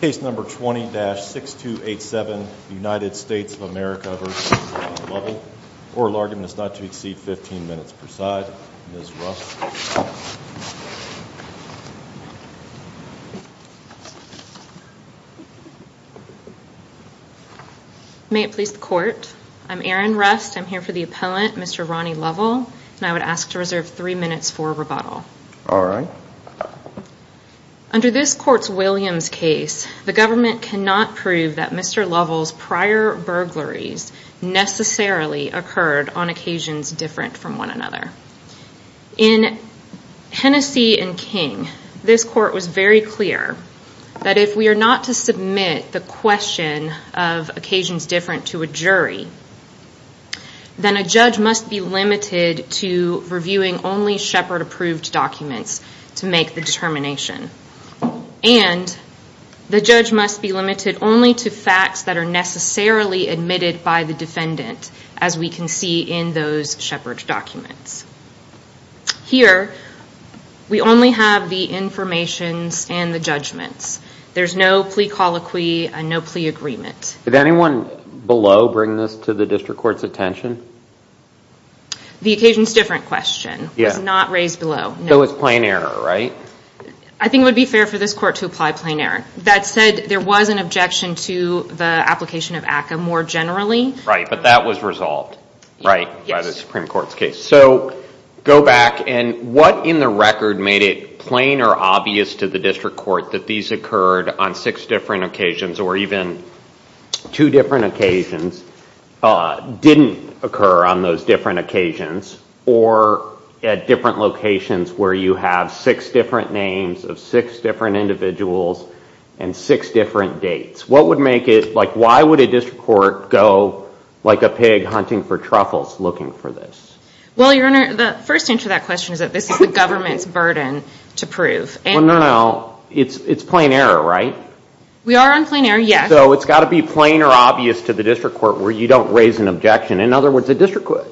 Case number 20-6287, United States of America v. Ronnie Lovell. Oral argument is not to exceed 15 minutes per side. Ms. Rust. May it please the court. I'm Erin Rust. I'm here for the appellant, Mr. Ronnie Lovell. And I would ask to reserve three minutes for rebuttal. All right. Under this court's Williams case, the government cannot prove that Mr. Lovell's prior burglaries necessarily occurred on occasions different from one another. In Hennessey v. King, this court was very clear that if we are not to submit the question of occasions different to a jury, then a judge must be limited to reviewing only Shepard-approved documents to make the determination. And the judge must be limited only to facts that are necessarily admitted by the defendant, as we can see in those Shepard documents. Here, we only have the informations and the judgments. There's no plea colloquy and no plea agreement. Did anyone below bring this to the district court's attention? The occasions different question was not raised below. So it's plain error, right? I think it would be fair for this court to apply plain error. That said, there was an objection to the application of ACCA more generally. Right, but that was resolved, right, by the Supreme Court's case. So go back, and what in the record made it plain or obvious to the district court that these occurred on six different occasions or even two different occasions didn't occur on those different occasions or at different locations where you have six different names of six different individuals and six different dates? What would make it, like, why would a district court go like a pig hunting for truffles looking for this? Well, Your Honor, the first answer to that question is that this is the government's burden to prove. Well, no, no. It's plain error, right? We are on plain error, yes. So it's got to be plain or obvious to the district court where you don't raise an objection. In other words, a district court,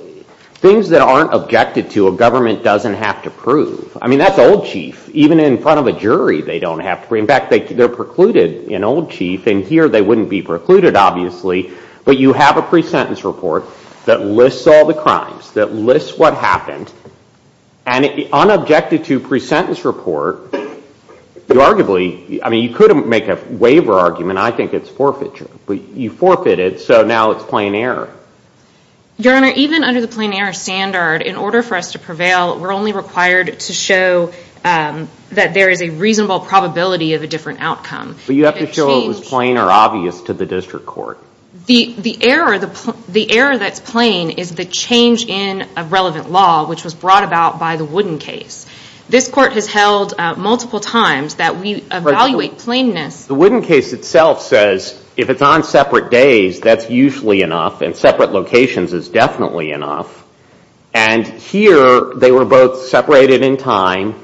things that aren't objected to, a government doesn't have to prove. I mean, that's old chief. Even in front of a jury, they don't have to prove. In fact, they're precluded in old chief, and here they wouldn't be precluded, obviously. But you have a pre-sentence report that lists all the crimes, that lists what happened. And unobjected to pre-sentence report, you arguably, I mean, you could make a waiver argument. I think it's forfeiture. But you forfeited, so now it's plain error. Your Honor, even under the plain error standard, in order for us to prevail, we're only required to show that there is a reasonable probability of a different outcome. But you have to show it was plain or obvious to the district court. The error that's plain is the change in a relevant law, which was brought about by the Wooden case. This court has held multiple times that we evaluate plainness. The Wooden case itself says if it's on separate days, that's usually enough, and separate locations is definitely enough. And here, they were both separated in time,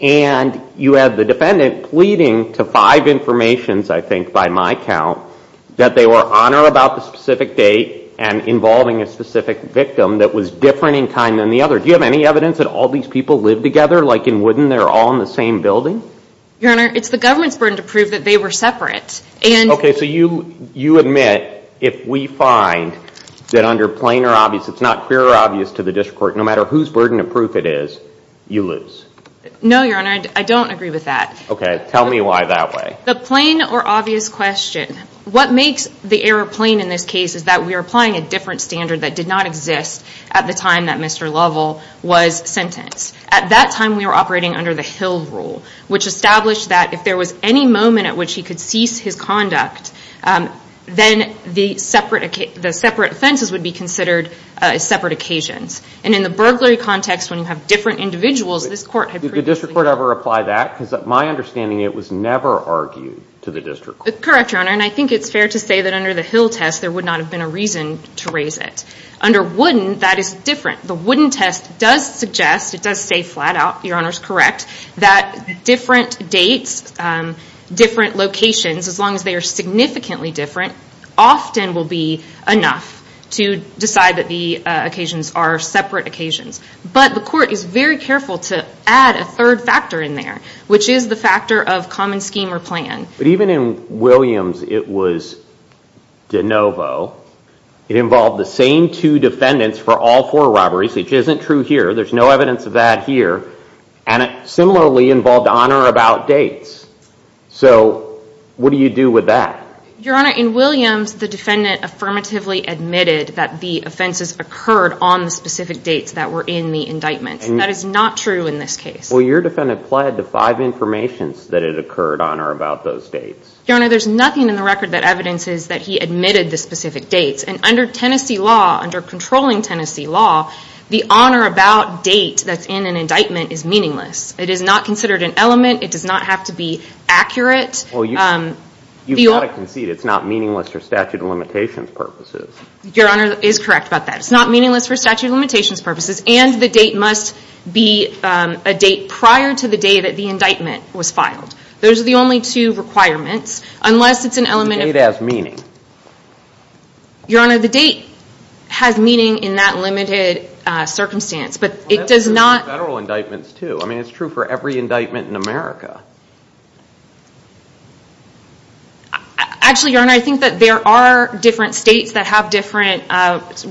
and you have the defendant pleading to five informations, I think, by my count, that they were on or about the specific date and involving a specific victim that was different in time than the other. Do you have any evidence that all these people lived together like in Wooden? They're all in the same building? Your Honor, it's the government's burden to prove that they were separate. Okay, so you admit if we find that under plain or obvious, it's not clear or obvious to the district court, no matter whose burden of proof it is, you lose. No, Your Honor, I don't agree with that. Okay, tell me why that way. The plain or obvious question. What makes the error plain in this case is that we are applying a different standard that did not exist at the time that Mr. Lovell was sentenced. At that time, we were operating under the Hill rule, which established that if there was any moment at which he could cease his conduct, then the separate offenses would be considered separate occasions. And in the burglary context, when you have different individuals, this court had previously because my understanding, it was never argued to the district court. Correct, Your Honor, and I think it's fair to say that under the Hill test, there would not have been a reason to raise it. Under Wooden, that is different. The Wooden test does suggest, it does say flat out, Your Honor's correct, that different dates, different locations, as long as they are significantly different, often will be enough to decide that the occasions are separate occasions. But the court is very careful to add a third factor in there, which is the factor of common scheme or plan. But even in Williams, it was de novo. It involved the same two defendants for all four robberies, which isn't true here. There's no evidence of that here. And it similarly involved honor about dates. So what do you do with that? Your Honor, in Williams, the defendant affirmatively admitted that the offenses occurred on the specific dates that were in the indictment. That is not true in this case. Well, your defendant pled to five informations that it occurred on or about those dates. Your Honor, there's nothing in the record that evidences that he admitted the specific dates. And under Tennessee law, under controlling Tennessee law, the honor about date that's in an indictment is meaningless. It is not considered an element. It does not have to be accurate. Well, you've got to concede it's not meaningless for statute of limitations purposes. Your Honor is correct about that. It's not meaningless for statute of limitations purposes. And the date must be a date prior to the day that the indictment was filed. Those are the only two requirements. Unless it's an element of... The date has meaning. Your Honor, the date has meaning in that limited circumstance. But it does not... Well, that's true for federal indictments, too. I mean, it's true for every indictment in America. Actually, Your Honor, I think that there are different states that have different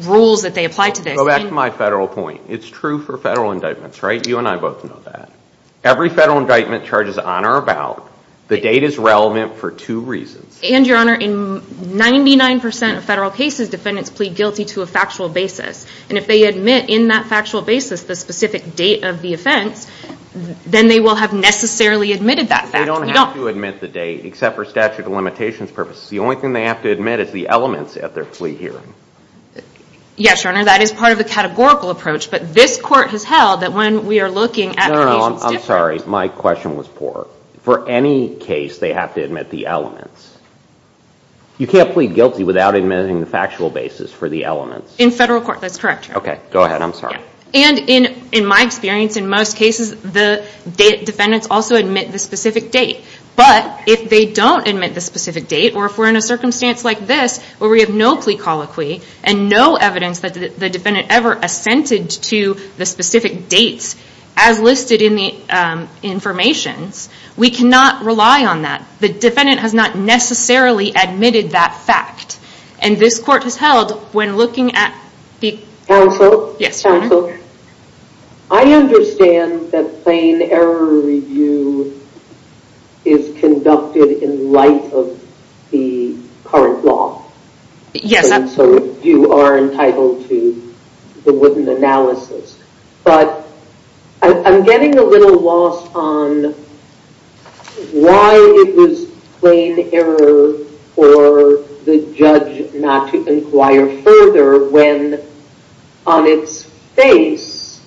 rules that they apply to this. Go back to my federal point. It's true for federal indictments, right? You and I both know that. Every federal indictment charges on or about, the date is relevant for two reasons. And, Your Honor, in 99% of federal cases, defendants plead guilty to a factual basis. And if they admit in that factual basis the specific date of the offense, then they will have necessarily admitted that fact. They don't have to admit the date, except for statute of limitations purposes. The only thing they have to admit is the elements at their plea hearing. Yes, Your Honor, that is part of the categorical approach. But this court has held that when we are looking at... No, no, no, I'm sorry. My question was poor. For any case, they have to admit the elements. You can't plead guilty without admitting the factual basis for the elements. In federal court, that's correct, Your Honor. Okay, go ahead. I'm sorry. And in my experience, in most cases, the defendants also admit the specific date. But, if they don't admit the specific date, or if we're in a circumstance like this, where we have no plea colloquy, and no evidence that the defendant ever assented to the specific dates, as listed in the information, we cannot rely on that. The defendant has not necessarily admitted that fact. And this court has held, when looking at... Counsel? Yes, Your Honor. Counsel, I understand that plain error review is conducted in light of the current law. Yes, that's correct. And so you are entitled to the wooden analysis. But, I'm getting a little lost on why it was plain error for the judge not to inquire further, when, on its face,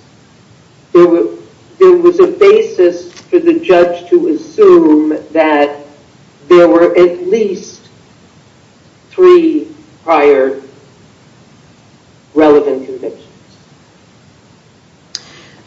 there was a basis for the judge to assume that there were at least three prior relevant convictions.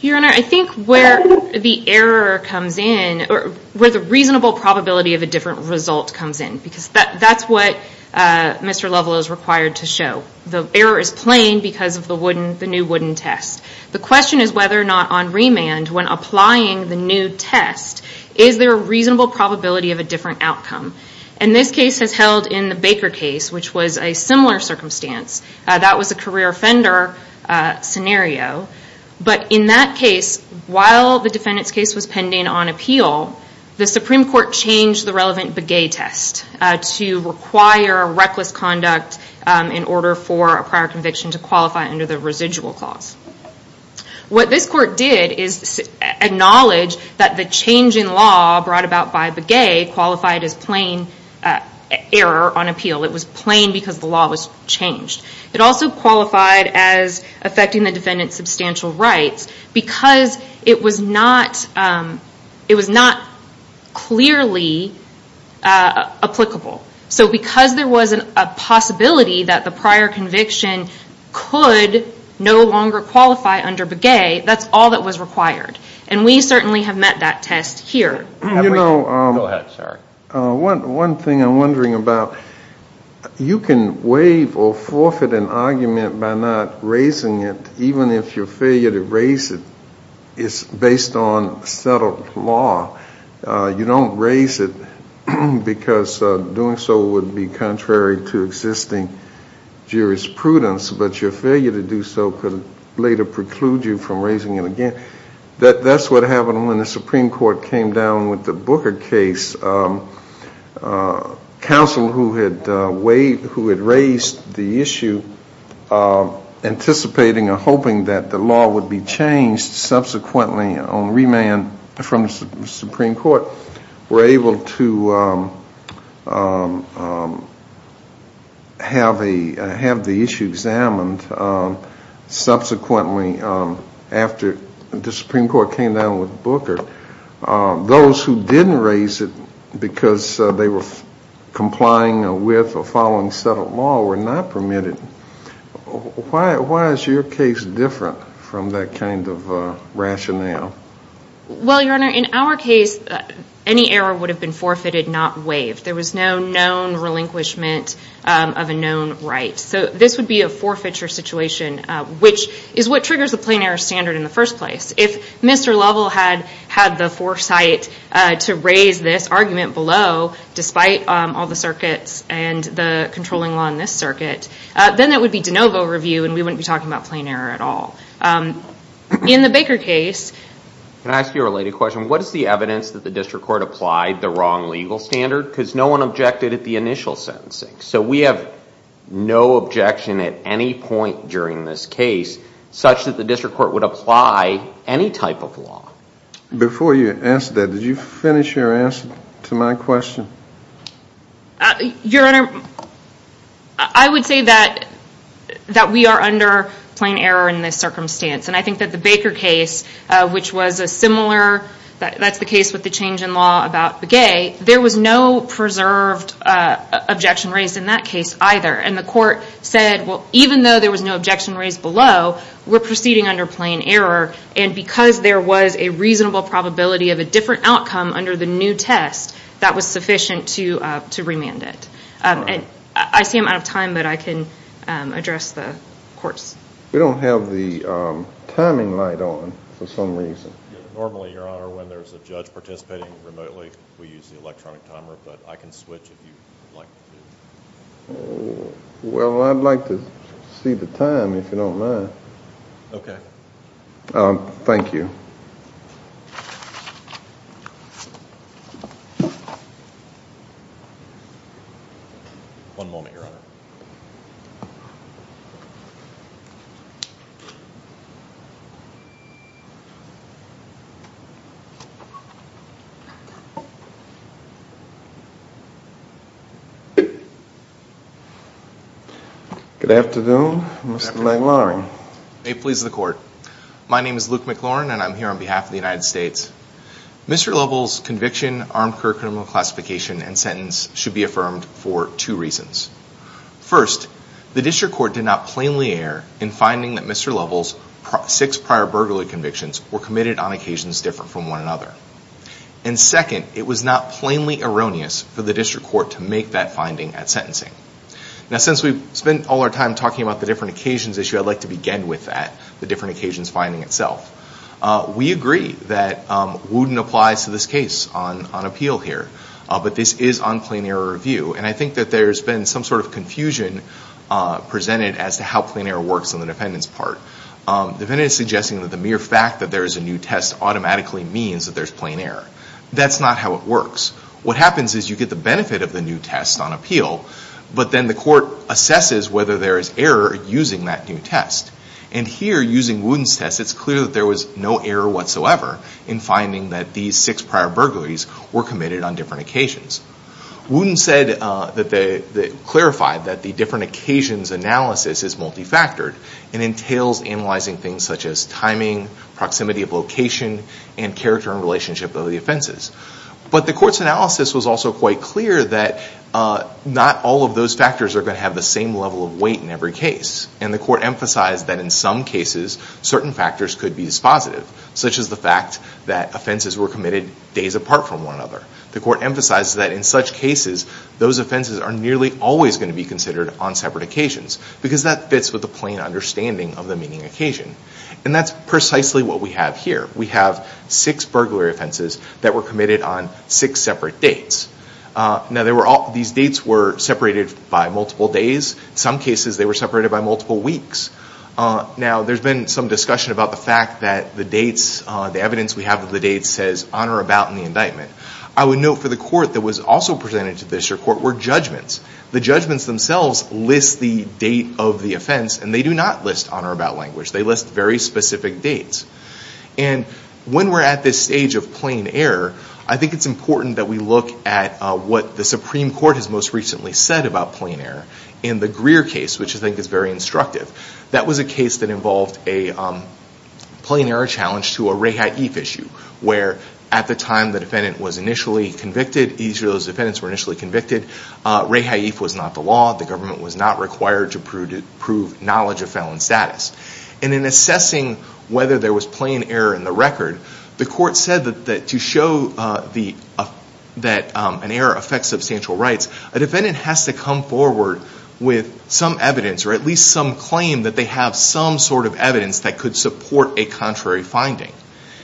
Your Honor, I think where the error comes in, or where the reasonable probability of a different result comes in, because that's what Mr. Lovell is required to show. The error is plain because of the new wooden test. The question is whether or not, on remand, when applying the new test, is there a reasonable probability of a different outcome? And this case has held in the Baker case, which was a similar circumstance. That was a career offender scenario. But in that case, while the defendant's case was pending on appeal, the Supreme Court changed the relevant Begay test to require reckless conduct in order for a prior conviction to qualify under the residual clause. What this court did is acknowledge that the change in law brought about by Begay qualified as plain error on appeal. It was plain because the law was changed. It also qualified as affecting the defendant's substantial rights because it was not clearly applicable. So because there was a possibility that the prior conviction could no longer qualify under Begay, that's all that was required. And we certainly have met that test here. Go ahead, sorry. One thing I'm wondering about, you can waive or forfeit an argument by not raising it, even if your failure to raise it is based on settled law. You don't raise it because doing so would be contrary to existing jurisprudence, but your failure to do so could later preclude you from raising it again. That's what happened when the Supreme Court came down with the Booker case. Counsel who had raised the issue, anticipating or hoping that the law would be changed subsequently on remand from the Supreme Court, were able to have the issue examined subsequently after the Supreme Court came down with Booker. Those who didn't raise it because they were complying with or following settled law were not permitted. Why is your case different from that kind of rationale? Well, Your Honor, in our case, any error would have been forfeited, not waived. There was no known relinquishment of a known right. So this would be a forfeiture situation, which is what triggers the plain error standard in the first place. If Mr. Lovell had had the foresight to raise this argument below, despite all the circuits and the controlling law in this circuit, then that would be de novo review and we wouldn't be talking about plain error at all. In the Baker case... Can I ask you a related question? What is the evidence that the District Court applied the wrong legal standard? Because no one objected at the initial sentencing. So we have no objection at any point during this case such that the District Court would apply any type of law. Before you answer that, did you finish your answer to my question? Your Honor, I would say that we are under plain error in this circumstance. And I think that the Baker case, which was a similar... That's the case with the change in law about Begay. There was no preserved objection raised in that case either. And the court said, well, even though there was no objection raised below, we're proceeding under plain error. And because there was a reasonable probability of a different outcome under the new test, that was sufficient to remand it. I see I'm out of time, but I can address the courts. We don't have the timing light on for some reason. Normally, Your Honor, when there's a judge participating remotely, we use the electronic timer, but I can switch if you'd like to. Well, I'd like to see the time, if you don't mind. Okay. Thank you. One moment, Your Honor. Good afternoon. Mr. Langloring. May it please the Court. My name is Luke McLorin, and I'm here on behalf of the United States. Mr. Lovell's conviction, armed career criminal classification, and sentence should be affirmed for two reasons. First, the district court did not plainly err in finding that Mr. Lovell's six prior burglary convictions were committed on occasions different from one another. And second, it was not plainly erroneous for the district court to make that finding at sentencing. Now, since we've spent all our time talking about the different occasions issue, I'd like to begin with that, the different occasions finding itself. We agree that Wooten applies to this case on appeal here, but this is on plain error review, and I think that there's been some sort of confusion presented as to how plain error works on the defendant's part. The defendant is suggesting that the mere fact that there is a new test automatically means that there's plain error. That's not how it works. What happens is you get the benefit of the new test on appeal, but then the court assesses whether there is error using that new test. And here, using Wooten's test, it's clear that there was no error whatsoever in finding that these six prior burglaries were committed on different occasions. Wooten said that they clarified that the different occasions analysis is multifactored and entails analyzing things such as timing, proximity of location, and character and relationship of the offenses. But the court's analysis was also quite clear that not all of those factors are going to have the same level of weight in every case. And the court emphasized that in some cases, certain factors could be as positive, such as the fact that offenses were committed days apart from one another. The court emphasized that in such cases, those offenses are nearly always going to be considered on separate occasions because that fits with the plain understanding of the meeting occasion. And that's precisely what we have here. We have six burglary offenses that were committed on six separate dates. Now, these dates were separated by multiple days. In some cases, they were separated by multiple weeks. Now, there's been some discussion about the fact that the evidence we have of the dates says on or about in the indictment. I would note for the court that was also presented to the district court were judgments. The judgments themselves list the date of the offense, and they do not list on or about language. They list very specific dates. And when we're at this stage of plain error, I think it's important that we look at what the Supreme Court has most recently said about plain error. In the Greer case, which I think is very instructive, that was a case that involved a plain error challenge to a rehaif issue, where at the time the defendant was initially convicted, either of those defendants were initially convicted, rehaif was not the law. The government was not required to prove knowledge of felon status. And in assessing whether there was plain error in the record, the court said that to show that an error affects substantial rights, a defendant has to come forward with some evidence, or at least some claim that they have some sort of evidence that could support a contrary finding.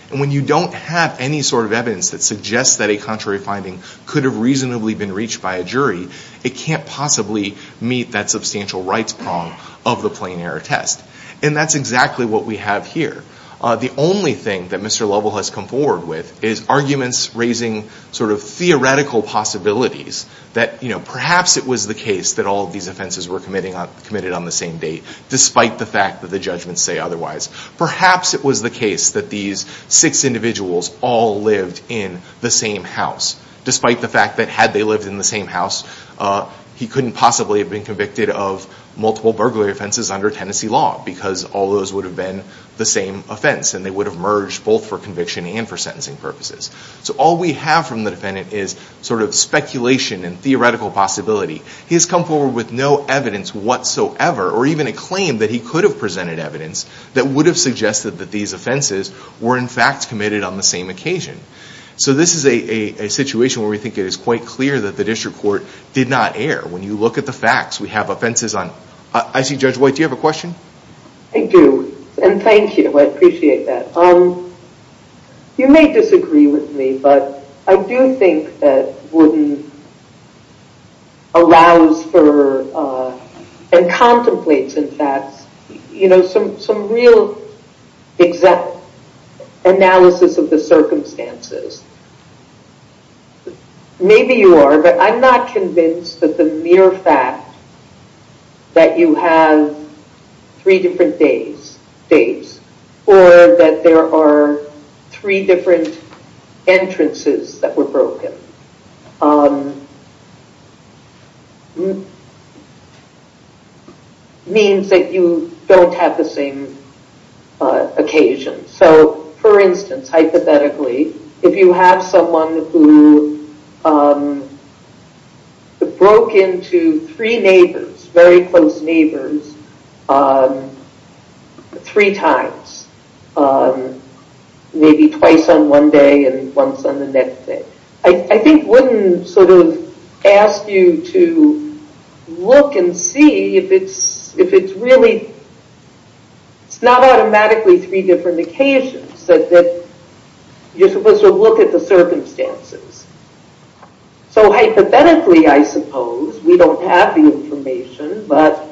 And when you don't have any sort of evidence that suggests that a contrary finding could have reasonably been reached by a jury, it can't possibly meet that substantial rights prong of the plain error test. And that's exactly what we have here. The only thing that Mr. Lovell has come forward with is arguments raising sort of theoretical possibilities that perhaps it was the case that all of these offenses were committed on the same date, despite the fact that the judgments say otherwise. Perhaps it was the case that these six individuals all lived in the same house, despite the fact that had they lived in the same house, he couldn't possibly have been convicted of multiple burglary offenses under Tennessee law because all those would have been the same offense, and they would have merged both for conviction and for sentencing purposes. So all we have from the defendant is sort of speculation and theoretical possibility. He has come forward with no evidence whatsoever, or even a claim that he could have presented evidence, that would have suggested that these offenses were in fact committed on the same occasion. So this is a situation where we think it is quite clear that the district court did not err. When you look at the facts, we have offenses on... I see Judge White, do you have a question? I do, and thank you. I appreciate that. You may disagree with me, but I do think that Wooden allows for, and contemplates, in fact, some real analysis of the circumstances. Maybe you are, but I'm not convinced that the mere fact that you have three different days, or that there are three different entrances that were broken, means that you don't have the same occasion. So, for instance, hypothetically, if you have someone who broke into three neighbors, very close neighbors, three times, maybe twice on one day and once on the next day, I think Wooden sort of asked you to look and see if it's really... it's not automatically three different occasions, that you're supposed to look at the circumstances. So hypothetically, I suppose, we don't have the information, but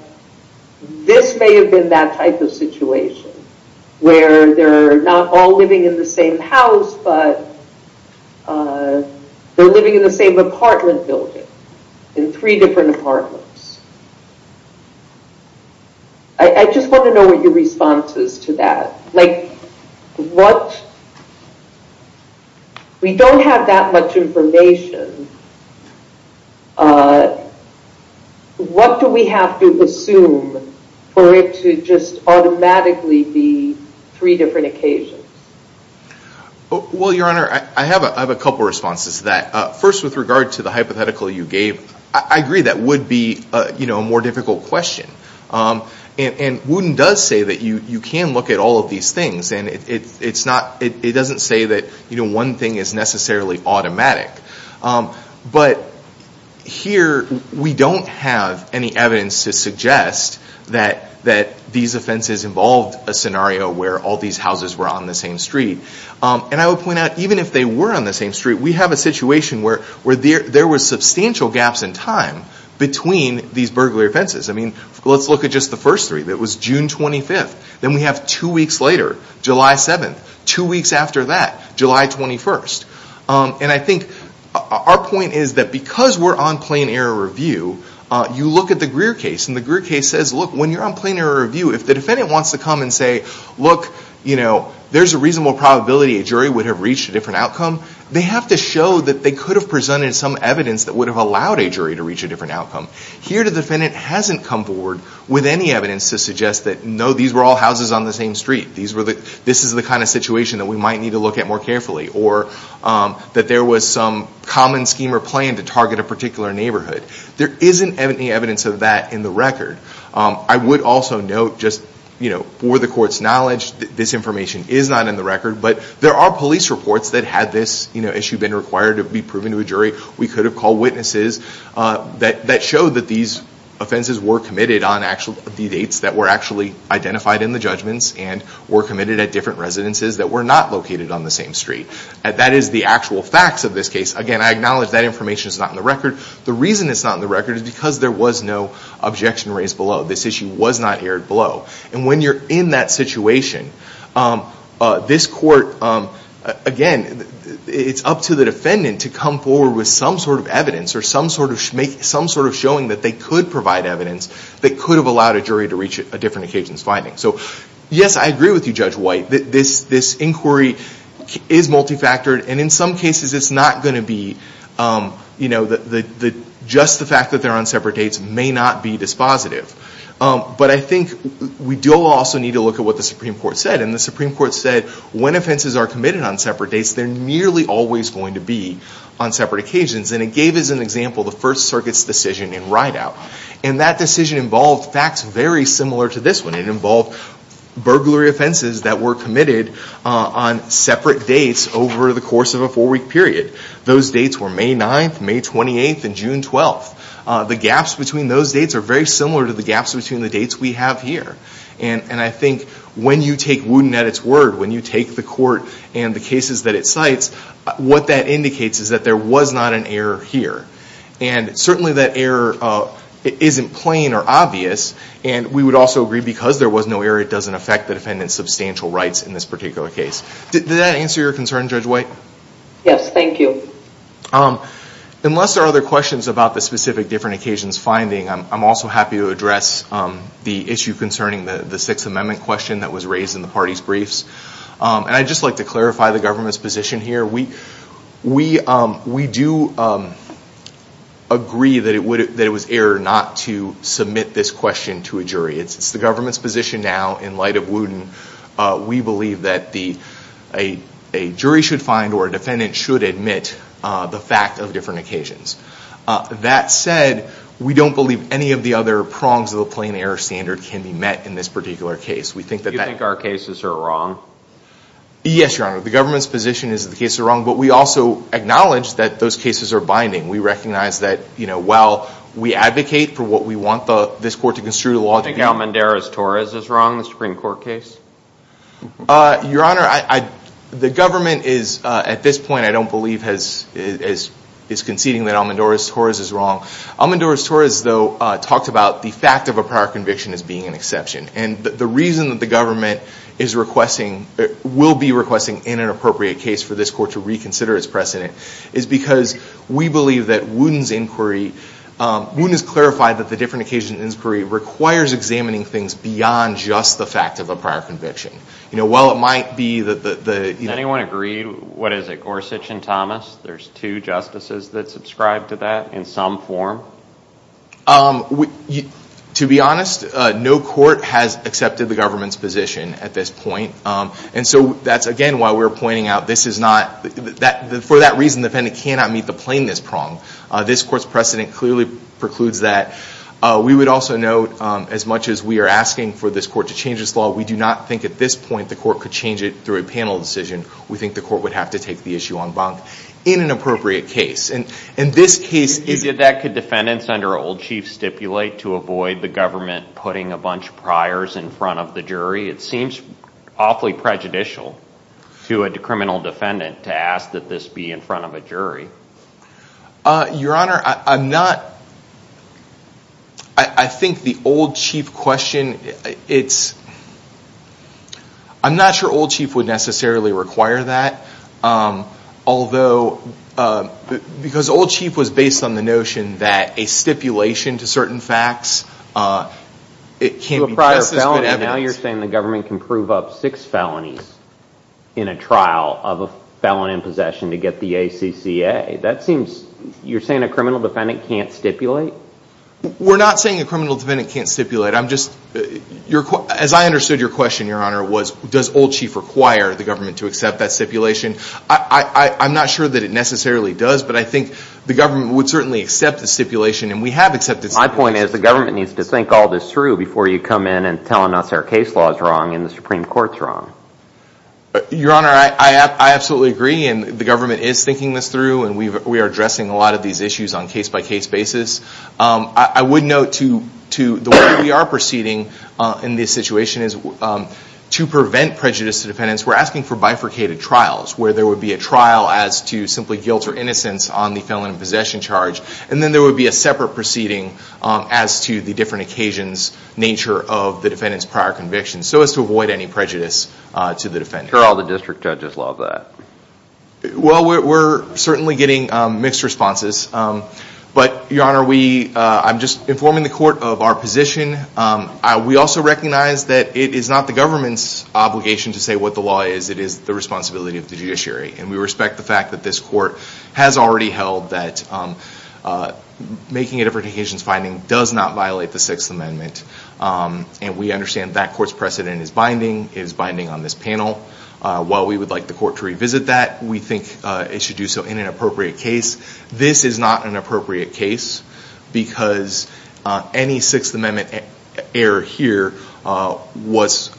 this may have been that type of situation, where they're not all living in the same house, but they're living in the same apartment building, in three different apartments. I just want to know what your response is to that. Like, what... We don't have that much information. What do we have to assume for it to just automatically be three different occasions? Well, Your Honor, I have a couple of responses to that. First, with regard to the hypothetical you gave, I agree that would be a more difficult question. And Wooden does say that you can look at all of these things, and it doesn't say that one thing is necessarily automatic. But here, we don't have any evidence to suggest that these offenses involved a scenario where all these houses were on the same street. And I would point out, even if they were on the same street, we have a situation where there were substantial gaps in time between these burglary offenses. I mean, let's look at just the first three. It was June 25th. Then we have two weeks later, July 7th. Two weeks after that, July 21st. And I think our point is that because we're on plain error review, you look at the Greer case, and the Greer case says, look, when you're on plain error review, if the defendant wants to come and say, look, there's a reasonable probability a jury would have reached a different outcome, they have to show that they could have presented some evidence that would have allowed a jury to reach a different outcome. Here, the defendant hasn't come forward with any evidence to suggest that, no, these were all houses on the same street. This is the kind of situation that we might need to look at more carefully. Or that there was some common scheme or plan to target a particular neighborhood. There isn't any evidence of that in the record. I would also note, just for the court's knowledge, this information is not in the record, but there are police reports that had this issue been required to be proven to a jury. We could have called witnesses that showed that these offenses were committed on the dates that were actually identified in the judgments and were committed at different residences that were not located on the same street. That is the actual facts of this case. Again, I acknowledge that information is not in the record. The reason it's not in the record is because there was no objection raised below. This issue was not aired below. And when you're in that situation, this court, again, it's up to the defendant to come forward with some sort of evidence or some sort of showing that they could provide evidence that could have allowed a jury to reach a different occasion's finding. So yes, I agree with you, Judge White. This inquiry is multifactored. And in some cases, it's not going to be just the fact that they're on separate dates may not be dispositive. But I think we do also need to look at what the Supreme Court said. And the Supreme Court said when offenses are committed on separate dates, they're nearly always going to be on separate occasions. And it gave us an example, the First Circuit's decision in Rideout. And that decision involved facts very similar to this one. It involved burglary offenses that were committed on separate dates over the course of a four-week period. Those dates were May 9th, May 28th, and June 12th. The gaps between those dates are very similar to the gaps between the dates we have here. And I think when you take Wooten at its word, when you take the court and the cases that it cites, what that indicates is that there was not an error here. And certainly that error isn't plain or obvious. And we would also agree because there was no error, it doesn't affect the defendant's substantial rights in this particular case. Did that answer your concern, Judge White? Yes, thank you. Unless there are other questions about the specific different occasions finding, I'm also happy to address the issue concerning the Sixth Amendment question that was raised in the party's briefs. And I'd just like to clarify the government's position here. We do agree that it was error not to submit this question to a jury. It's the government's position now, in light of Wooten, we believe that a jury should find or a defendant should admit the fact of different occasions. That said, we don't believe any of the other prongs of the plain error standard can be met in this particular case. Do you think our cases are wrong? Yes, Your Honor. The government's position is that the cases are wrong, but we also acknowledge that those cases are binding. We recognize that while we advocate for what we want this court to construe to law. Do you think Almendarez-Torres is wrong in the Supreme Court case? Your Honor, the government is, at this point I don't believe, is conceding that Almendarez-Torres is wrong. Almendarez-Torres, though, talked about the fact of a prior conviction as being an exception. And the reason that the government is requesting, will be requesting in an appropriate case for this court to reconsider its precedent, is because we believe that Wooten's inquiry, Wooten has clarified that the different occasions inquiry requires examining things beyond just the fact of a prior conviction. You know, while it might be that the, you know. Does anyone agree, what is it, Gorsuch and Thomas, there's two justices that subscribe to that in some form? To be honest, no court has accepted the government's position at this point. And so that's, again, why we're pointing out this is not, for that reason the defendant cannot meet the plainness prong. This court's precedent clearly precludes that. We would also note, as much as we are asking for this court to change its law, we do not think at this point the court could change it through a panel decision. We think the court would have to take the issue en banc in an appropriate case. Could defendants under old chief stipulate to avoid the government putting a bunch of priors in front of the jury? It seems awfully prejudicial to a criminal defendant to ask that this be in front of a jury. Your Honor, I'm not, I think the old chief question, it's, I'm not sure old chief would necessarily require that. Although, because old chief was based on the notion that a stipulation to certain facts, it can't be just as good evidence. To a prior felony, now you're saying the government can prove up six felonies in a trial of a felon in possession to get the ACCA. That seems, you're saying a criminal defendant can't stipulate? We're not saying a criminal defendant can't stipulate. I'm just, as I understood your question, Your Honor, was does old chief require the government to accept that stipulation? I'm not sure that it necessarily does, but I think the government would certainly accept the stipulation, and we have accepted stipulations. My point is the government needs to think all this through before you come in and tell us our case law is wrong and the Supreme Court's wrong. Your Honor, I absolutely agree, and the government is thinking this through, and we are addressing a lot of these issues on a case-by-case basis. I would note to the way we are proceeding in this situation is to prevent prejudice to defendants, we're asking for bifurcated trials, where there would be a trial as to simply guilt or innocence on the felon in possession charge, and then there would be a separate proceeding as to the different occasions, nature of the defendant's prior conviction, so as to avoid any prejudice to the defendant. I'm sure all the district judges love that. Well, we're certainly getting mixed responses, but, Your Honor, I'm just informing the court of our position. We also recognize that it is not the government's obligation to say what the law is. It is the responsibility of the judiciary, and we respect the fact that this court has already held that making a different occasions finding does not violate the Sixth Amendment, and we understand that court's precedent is binding on this panel. While we would like the court to revisit that, we think it should do so in an appropriate case. This is not an appropriate case because any Sixth Amendment error here was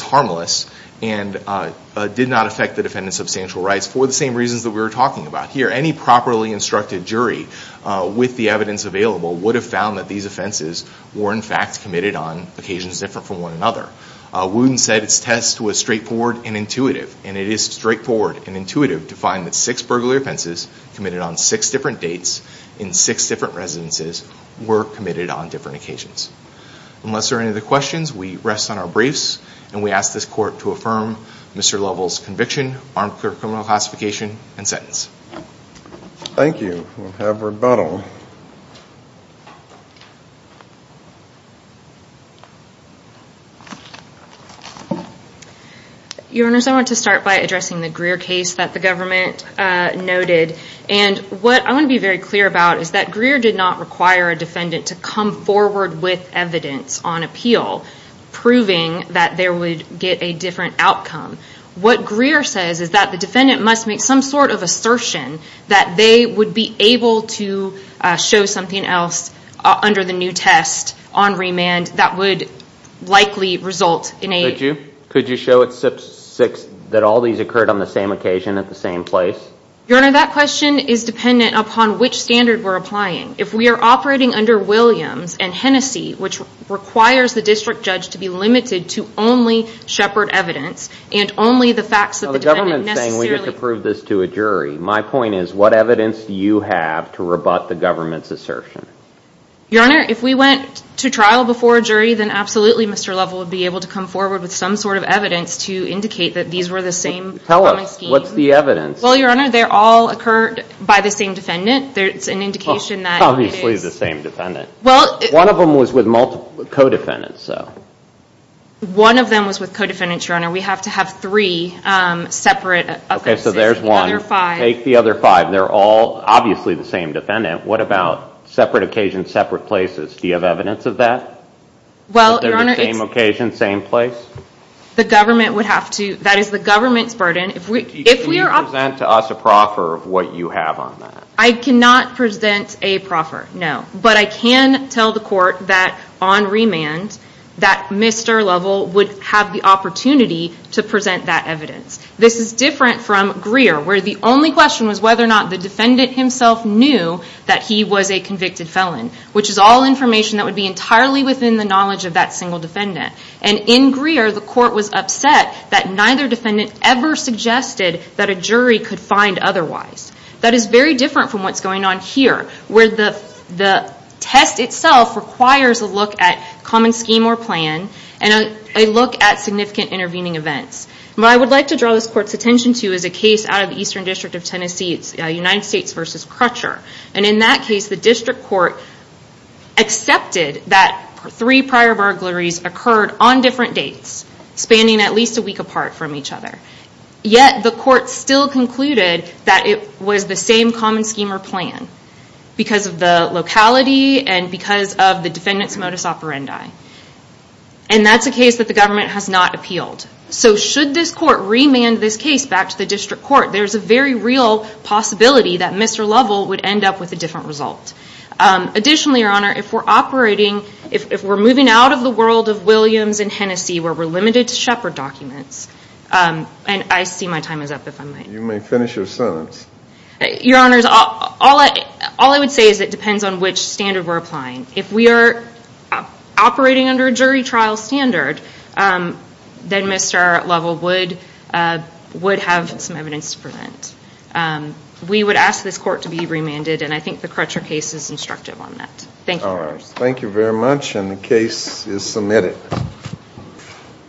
harmless and did not affect the defendant's substantial rights for the same reasons that we were talking about here. Any properly instructed jury with the evidence available would have found that these offenses were, in fact, committed on occasions different from one another. Wooten said its test was straightforward and intuitive, and it is straightforward and intuitive to find that six burglary offenses committed on six different dates in six different residences were committed on different occasions. Unless there are any other questions, we rest on our briefs, and we ask this court to affirm Mr. Lovell's conviction, armed criminal classification, and sentence. Thank you. We'll have rebuttal. Go ahead. Your Honors, I want to start by addressing the Greer case that the government noted, and what I want to be very clear about is that Greer did not require a defendant to come forward with evidence on appeal proving that they would get a different outcome. What Greer says is that the defendant must make some sort of assertion that they would be able to show something else under the new test on remand that would likely result in a- Could you show that all these occurred on the same occasion at the same place? Your Honor, that question is dependent upon which standard we're applying. If we are operating under Williams and Hennessy, which requires the district judge to be limited to only Shepard evidence and only the facts that the defendant necessarily- My point is, what evidence do you have to rebut the government's assertion? Your Honor, if we went to trial before a jury, then absolutely Mr. Lovell would be able to come forward with some sort of evidence to indicate that these were the same common scheme. Tell us, what's the evidence? Well, Your Honor, they all occurred by the same defendant. It's an indication that it is- Obviously the same defendant. Well- One of them was with multiple co-defendants, though. One of them was with co-defendants, Your Honor. We have to have three separate offenses. Okay, so there's one. Take the other five. They're all obviously the same defendant. What about separate occasions, separate places? Do you have evidence of that? Well, Your Honor- They're the same occasion, same place? The government would have to- That is the government's burden. If we are- Can you present to us a proffer of what you have on that? I cannot present a proffer, no. But I can tell the court that on remand, that Mr. Lovell would have the opportunity to present that evidence. This is different from Greer, where the only question was whether or not the defendant himself knew that he was a convicted felon, which is all information that would be entirely within the knowledge of that single defendant. And in Greer, the court was upset that neither defendant ever suggested that a jury could find otherwise. That is very different from what's going on here, where the test itself requires a look at common scheme or plan and a look at significant intervening events. What I would like to draw this court's attention to is a case out of the Eastern District of Tennessee, United States v. Crutcher. And in that case, the district court accepted that three prior burglaries occurred on different dates, spanning at least a week apart from each other. Yet the court still concluded that it was the same common scheme or plan, because of the locality and because of the defendant's modus operandi. And that's a case that the government has not appealed. So should this court remand this case back to the district court, there's a very real possibility that Mr. Lovell would end up with a different result. Additionally, Your Honor, if we're operating, if we're moving out of the world of Williams and Hennessey, where we're limited to Shepard documents, and I see my time is up, if I might. You may finish your sentence. Your Honors, all I would say is it depends on which standard we're applying. If we are operating under a jury trial standard, then Mr. Lovell would have some evidence to prevent. We would ask this court to be remanded, and I think the Crutcher case is instructive on that. Thank you, Your Honors. Thank you very much, and the case is submitted.